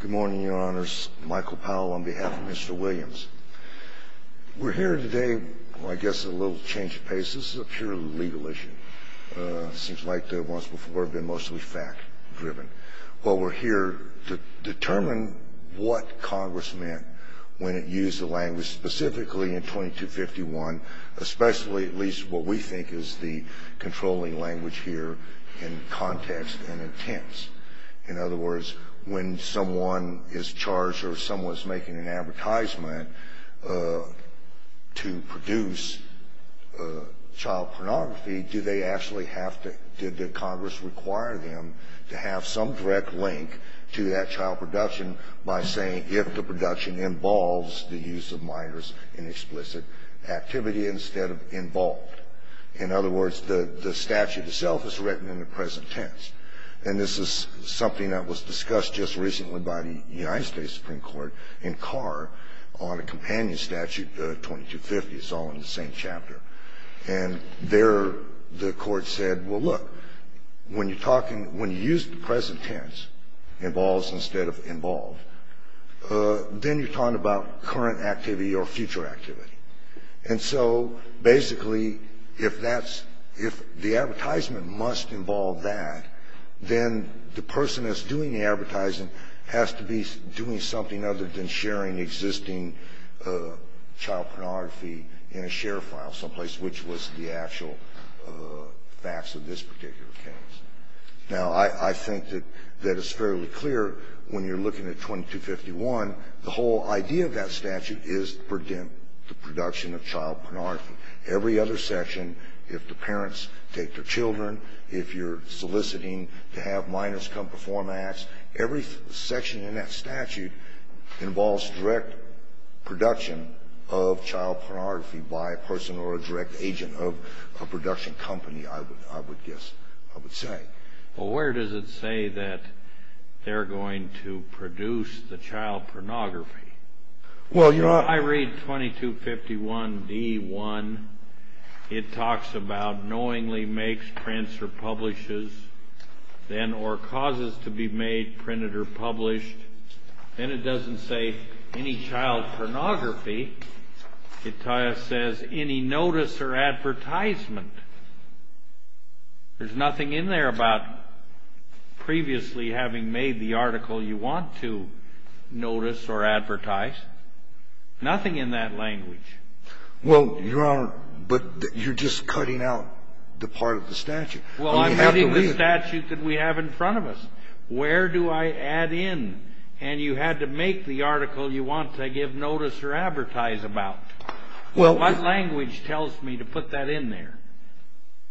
Good morning, your honors. Michael Powell on behalf of Mr. Williams. We're here today, I guess, at a little change of pace. This is a pure legal issue. It seems like the ones before have been mostly fact-driven. Well, we're here to determine what Congress meant when it used the language, specifically in 2251, especially at least what we think is the controlling language here in context and in tense. In other words, when someone is charged or someone is making an advertisement to produce child pornography, do they actually have to – did the Congress require them to have some direct link to that child production by saying if the production involves the use of minors in explicit activity instead of involved? In other words, the statute itself is written in the present tense. And this is something that was discussed just recently by the United States Supreme Court in Carr on a companion statute, 2250. It's all in the same chapter. And there the court said, well, look, when you're talking – when you use the present tense, involves instead of involved, then you're talking about current activity or future activity. And so basically, if that's – if the advertisement must involve that, then the person that's doing the advertising has to be doing something other than sharing existing child pornography in a share file someplace, which was the actual facts of this particular case. Now, I think that it's fairly clear when you're looking at 2251, the whole idea of that statute is to predict the production of child pornography. Every other section, if the parents take their children, if you're soliciting to have minors come perform acts, every section in that statute involves direct production of child pornography by a person or a direct agent of a production company, I would guess, I would say. Well, where does it say that they're going to produce the child pornography? Well, your – I read 2251d1. It talks about knowingly makes, prints, or publishes, then or causes to be made, printed, or published. Then it doesn't say any child pornography. It says any notice or advertisement. There's nothing in there about previously having made the article you want to notice or advertise. Nothing in that language. Well, Your Honor, but you're just cutting out the part of the statute. Well, I'm having the statute that we have in front of us. Where do I add in? And you had to make the article you want to give notice or advertise about. What language tells me to put that in there?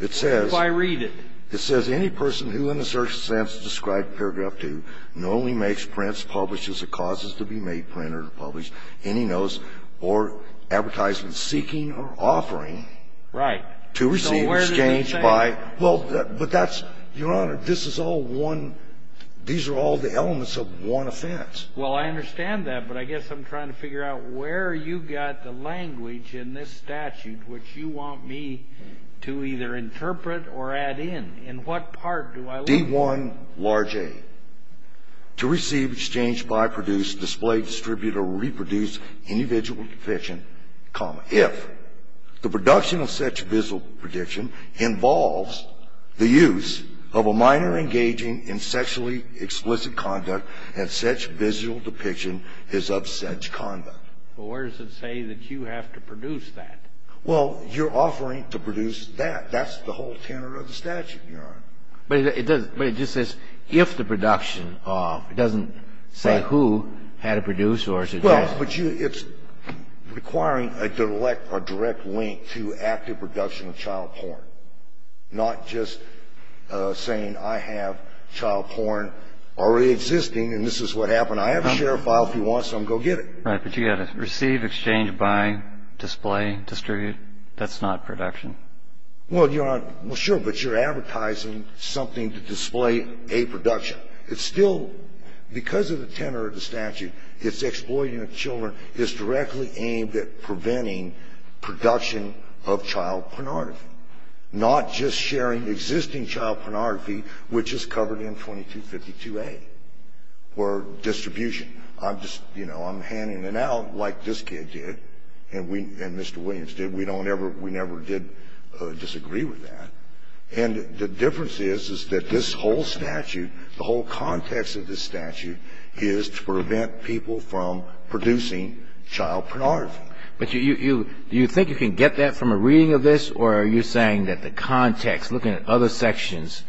It says – What do I read it? It says any person who in a certain sense described paragraph 2, knowingly makes, prints, publishes, or causes to be made, printed, or published, any notice or advertisement seeking or offering to receive, exchanged by – Right. So where does it say that? Well, but that's – Your Honor, this is all one – these are all the elements of one offense. Well, I understand that, but I guess I'm trying to figure out where you got the language in this statute which you want me to either interpret or add in. In what part do I – D1, large A, to receive, exchange, buy, produce, display, distribute, or reproduce individual conviction, comma, if the production of such visual prediction involves the use of a minor engaging in sexually explicit conduct and such visual depiction is of such conduct. Well, where does it say that you have to produce that? Well, you're offering to produce that. That's the whole tenor of the statute, Your Honor. But it just says, if the production of – it doesn't say who had to produce or suggest – Well, but you – it's requiring a direct link to active production of child porn, not just saying I have child porn already existing and this is what happened. I have a share file. If you want some, go get it. Right, but you've got to receive, exchange, buy, display, distribute. That's not production. Well, Your Honor – well, sure, but you're advertising something to display a production. It's still – because of the tenor of the statute, its exploiting of children is directly aimed at preventing production of child pornography, not just sharing existing child pornography, which is covered in 2252A, or distribution. I'm just – you know, I'm handing it out like this kid did and Mr. Williams did. We don't ever – we never did disagree with that. And the difference is, is that this whole statute, the whole context of this statute, is to prevent people from producing child pornography. But you – do you think you can get that from a reading of this, or are you saying that the context, looking at other sections,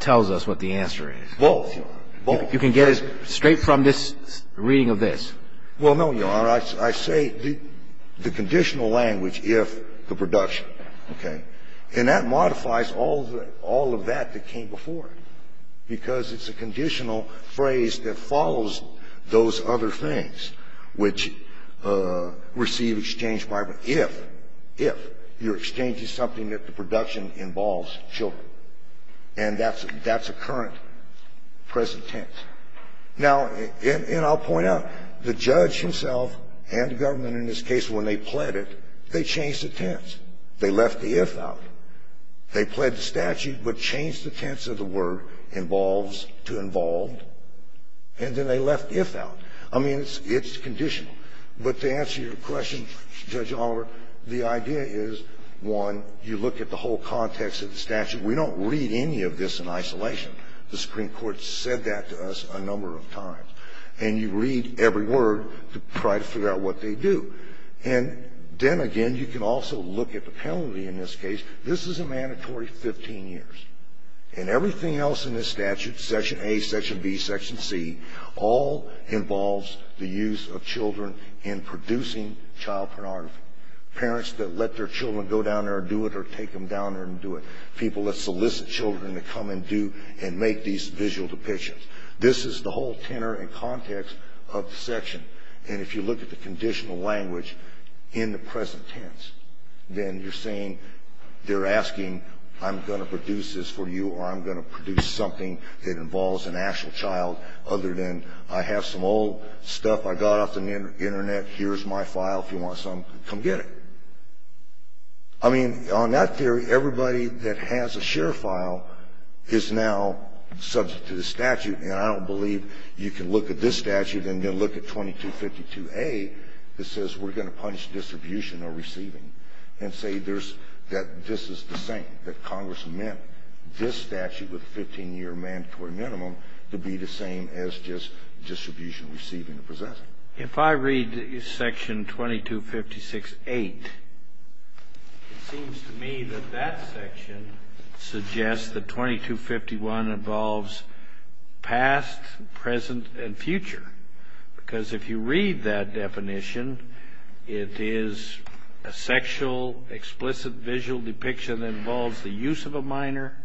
tells us what the answer is? Both, Your Honor. Both. You can get it straight from this reading of this? Well, no, Your Honor. I say the conditional language, if the production. Okay? And that modifies all the – all of that that came before it, because it's a conditional phrase that follows those other things, which receive exchange by if – if you're exchanging something that the production involves children. And that's – that's a current, present tense. Now, and I'll point out, the judge himself and the government in this case, when they pled it, they changed the tense. They left the if out. They pled the statute, but changed the tense of the word involves to involved, and then they left the if out. I mean, it's – it's conditional. But to answer your question, Judge Oliver, the idea is, one, you look at the whole context of the statute. We don't read any of this in isolation. The Supreme Court said that to us a number of times. And you read every word to try to figure out what they do. And then, again, you can also look at the penalty in this case. This is a mandatory 15 years. And everything else in this statute, section A, section B, section C, all involves the use of children in producing child pornography, parents that let their children go down there and do it or take them down there and do it, people that solicit children to come and do and make these visual depictions. This is the whole tenor and context of the section. And if you look at the conditional language in the present tense, then you're saying they're asking, I'm going to produce this for you, or I'm going to produce something that involves an actual child, other than I have some old stuff I got off the Internet. Here's my file. If you want some, come get it. I mean, on that theory, everybody that has a share file is now subject to the statute. And I don't believe you can look at this statute and then look at 2252A that says we're going to punish distribution or receiving and say that this is the same, that Congress meant this statute with a 15-year mandatory minimum to be the same as just distribution, receiving, or possessing. Kennedy. If I read section 2256.8, it seems to me that that section suggests that 2251 involves past, present, and future. Because if you read that definition, it is a sexual, explicit visual depiction that involves the use of a minor.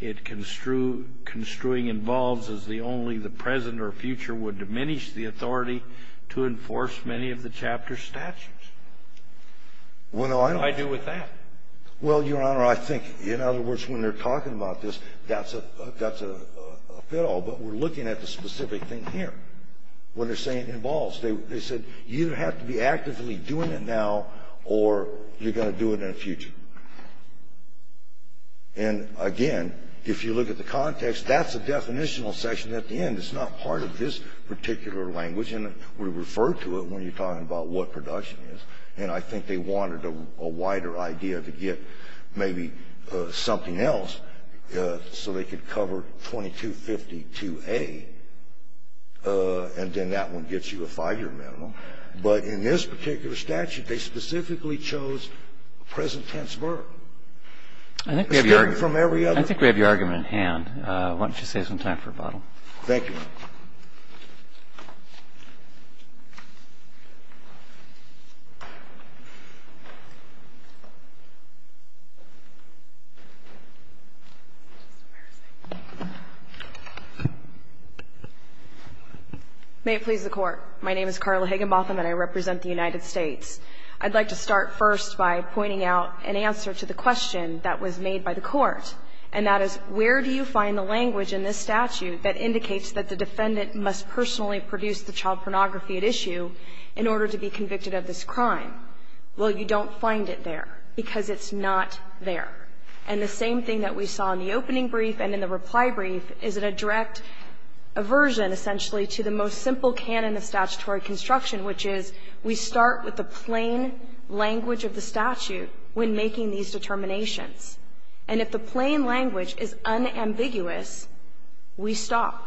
It construing involves as only the present or future would diminish the authority to enforce many of the chapter's statutes. What do I do with that? Well, Your Honor, I think, in other words, when they're talking about this, that's a pitfall, but we're looking at the specific thing here. What they're saying involves. They said you have to be actively doing it now or you're going to do it in the future. And, again, if you look at the context, that's a definitional section at the end. It's not part of this particular language. And we refer to it when you're talking about what production is. And I think they wanted a wider idea to get maybe something else so they could cover 2252A and then that one gets you a five-year minimum. But in this particular statute, they specifically chose present tense verb. It's different from every other. I think we have your argument at hand. Why don't you save some time for rebuttal. Thank you. Ms. Higginbotham. May it please the Court. My name is Carla Higginbotham and I represent the United States. I'd like to start first by pointing out an answer to the question that was made by the defendant must personally produce the child pornography at issue in order to be convicted of this crime. Well, you don't find it there because it's not there. And the same thing that we saw in the opening brief and in the reply brief is a direct aversion essentially to the most simple canon of statutory construction, which is we start with the plain language of the statute when making these determinations. And if the plain language is unambiguous, we stop.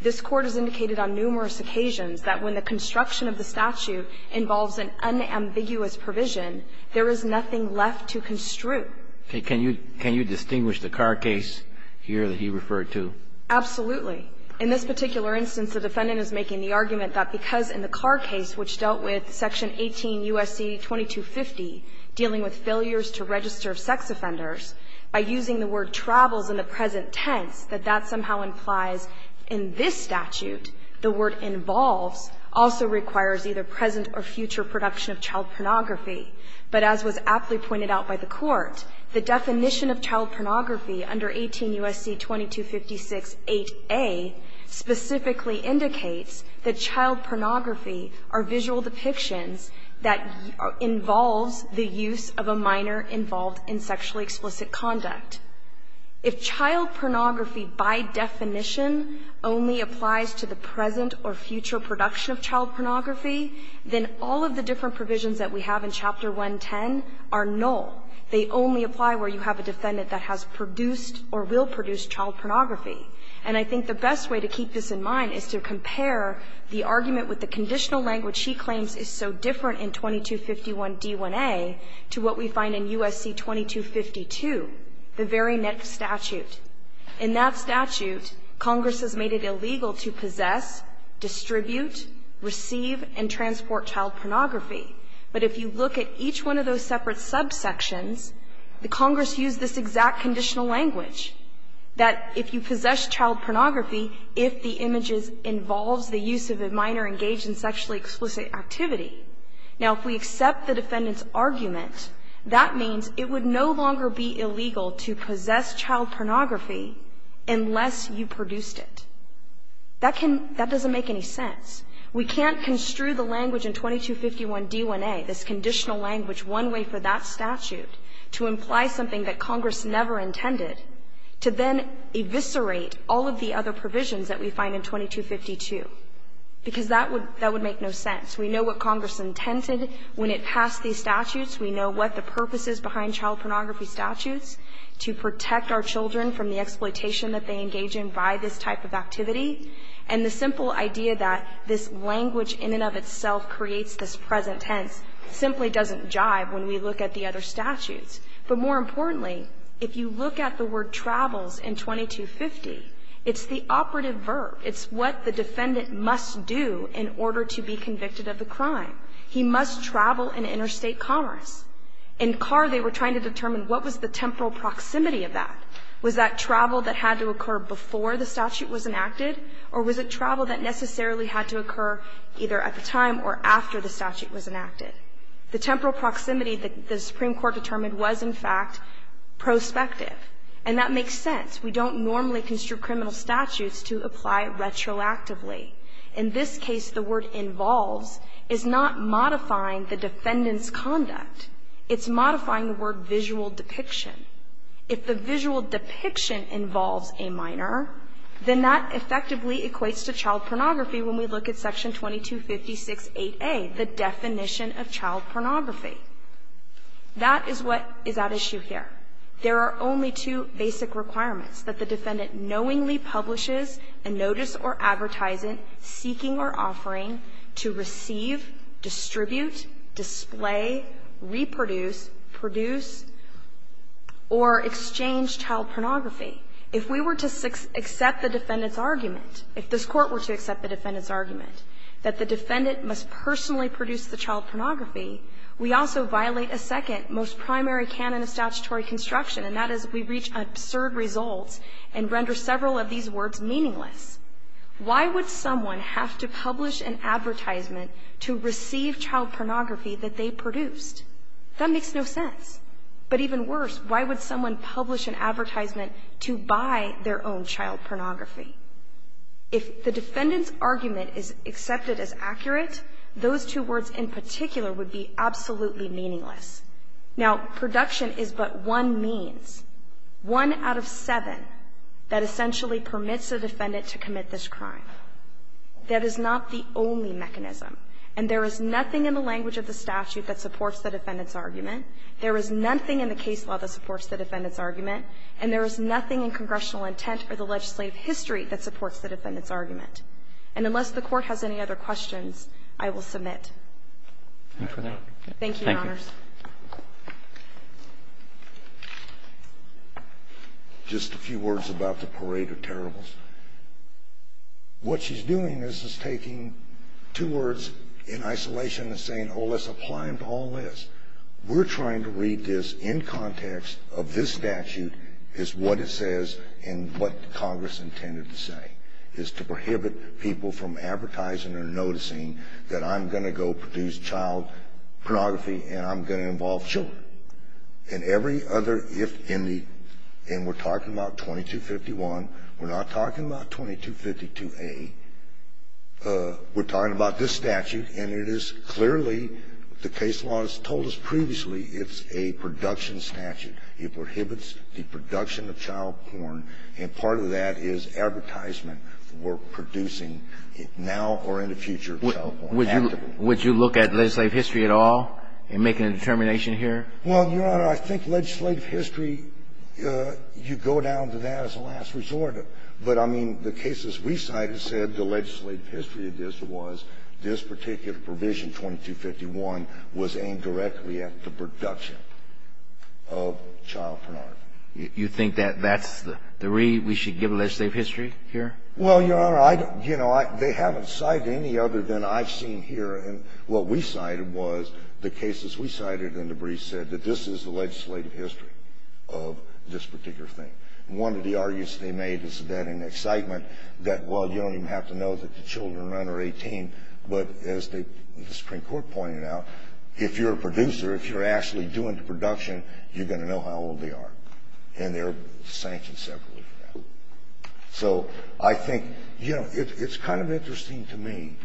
This Court has indicated on numerous occasions that when the construction of the statute involves an unambiguous provision, there is nothing left to construe. Can you distinguish the Carr case here that he referred to? Absolutely. In this particular instance, the defendant is making the argument that because in the Carr case, which dealt with Section 18 U.S.C. 2250, dealing with failures to register sex offenders, by using the word travels in the present tense, that that somehow implies in this statute the word involves also requires either present or future production of child pornography. But as was aptly pointed out by the Court, the definition of child pornography under 18 U.S.C. 2256-8a specifically indicates that child pornography are visual depictions that involves the use of a minor involved in sexually explicit conduct. If child pornography by definition only applies to the present or future production of child pornography, then all of the different provisions that we have in Chapter 110 are null. They only apply where you have a defendant that has produced or will produce child pornography. And I think the best way to keep this in mind is to compare the argument with the conditional language she claims is so different in 2251d1a to what we find in U.S.C. 2252, the very next statute. In that statute, Congress has made it illegal to possess, distribute, receive, and transport child pornography. But if you look at each one of those separate subsections, the Congress used this exact conditional language, that if you possess child pornography, if the image involves the use of a minor engaged in sexually explicit activity. Now, if we accept the defendant's argument, that means it would no longer be illegal to possess child pornography unless you produced it. That can – that doesn't make any sense. We can't construe the language in 2251d1a, this conditional language, one way for that statute to imply something that Congress never intended to then eviscerate all of the other provisions that we find in 2252, because that would make no sense. We know what Congress intended when it passed these statutes. We know what the purpose is behind child pornography statutes, to protect our children from the exploitation that they engage in by this type of activity. And the simple idea that this language in and of itself creates this present tense simply doesn't jive when we look at the other statutes. But more importantly, if you look at the word travels in 2250, it's the operative verb. It's what the defendant must do in order to be convicted of the crime. He must travel in interstate commerce. In Carr, they were trying to determine what was the temporal proximity of that. Was that travel that had to occur before the statute was enacted, or was it travel that necessarily had to occur either at the time or after the statute was enacted? The temporal proximity that the Supreme Court determined was, in fact, prospective. And that makes sense. We don't normally construe criminal statutes to apply retroactively. In this case, the word involves is not modifying the defendant's conduct. It's modifying the word visual depiction. If the visual depiction involves a minor, then that effectively equates to child pornography when we look at section 2256a, the definition of child pornography. That is what is at issue here. There are only two basic requirements, that the defendant knowingly publishes a notice or advertisement seeking or offering to receive, distribute, display, reproduce, produce, or exchange child pornography. If we were to accept the defendant's argument, if this court were to accept the defendant's argument that the defendant must personally produce the child pornography, we also violate a second most primary canon of statutory construction, and that is we reach absurd results and render several of these words meaningless. Why would someone have to publish an advertisement to receive child pornography that they produced? That makes no sense. But even worse, why would someone publish an advertisement to buy their own child pornography? If the defendant's argument is accepted as accurate, those two words in particular would be absolutely meaningless. Now, production is but one means, one out of seven, that essentially permits a defendant to commit this crime. That is not the only mechanism, and there is nothing in the language of the statute that supports the defendant's argument. There is nothing in the case law that supports the defendant's argument, and there is nothing in congressional intent or the legislative history that supports the defendant's argument. And unless the court has any other questions, I will submit. Thank you, Your Honors. Just a few words about the Parade of Terribles. What she's doing is taking two words in isolation and saying, let's apply them to all this. We're trying to read this in context of this statute, is what it says and what Congress intended to say, is to prohibit people from advertising or noticing that I'm going to go produce child pornography and I'm going to involve children. And every other, if in the, and we're talking about 2251, we're not talking about 2252A. We're talking about this statute, and it is clearly, the case law has told us previously, it's a production statute. It prohibits the production of child porn, and part of that is advertisement for producing now or in the future child porn. Would you look at legislative history at all in making a determination here? Well, Your Honor, I think legislative history, you go down to that as a last resort. But I mean, the cases we cited said the legislative history of this was, this particular provision, 2251, was aimed directly at the production of child pornography. You think that that's the, we should give legislative history here? Well, Your Honor, I, you know, they haven't cited any other than I've seen here. And what we cited was the cases we cited and the briefs said that this is the legislative history of this particular thing. One of the arguments they made is that in excitement that, well, you don't even have to know that the children are under 18. But as the Supreme Court pointed out, if you're a producer, if you're actually doing the production, you're going to know how old they are. And they're sanctioned separately for that. So I think, you know, it's kind of interesting to me,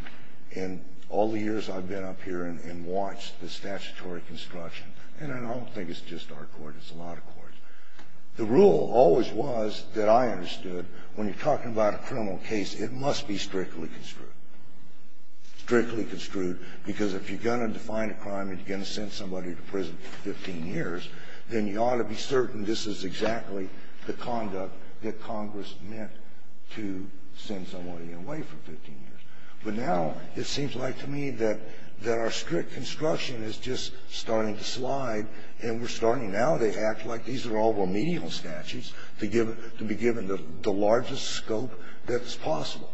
in all the years I've been up here and watched the statutory construction. And I don't think it's just our court, it's a lot of courts. The rule always was, that I understood, when you're talking about a criminal case, it must be strictly construed. Strictly construed, because if you're going to define a crime and you're going to send somebody to prison for 15 years, then you ought to be certain this is exactly the conduct that Congress meant to send somebody away for 15 years. But now, it seems like to me that our strict construction is just starting to slide. And we're starting now, they act like these are all remedial statutes, to be given the largest scope that's possible.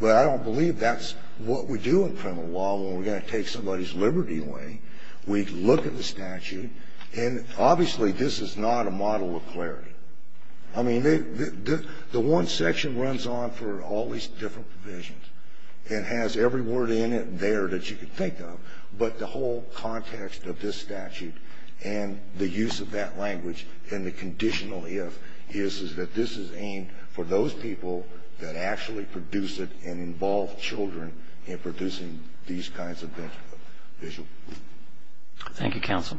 But I don't believe that's what we do in criminal law when we're going to take somebody's liberty away. We look at the statute, and obviously, this is not a model of clarity. I mean, the one section runs on for all these different provisions. It has every word in it there that you can think of. But the whole context of this statute, and the use of that language, and the conditional if, is that this is aimed for those people that actually produce it and involve children in producing these kinds of visual. Thank you, counsel.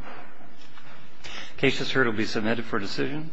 Case has heard will be submitted for decision.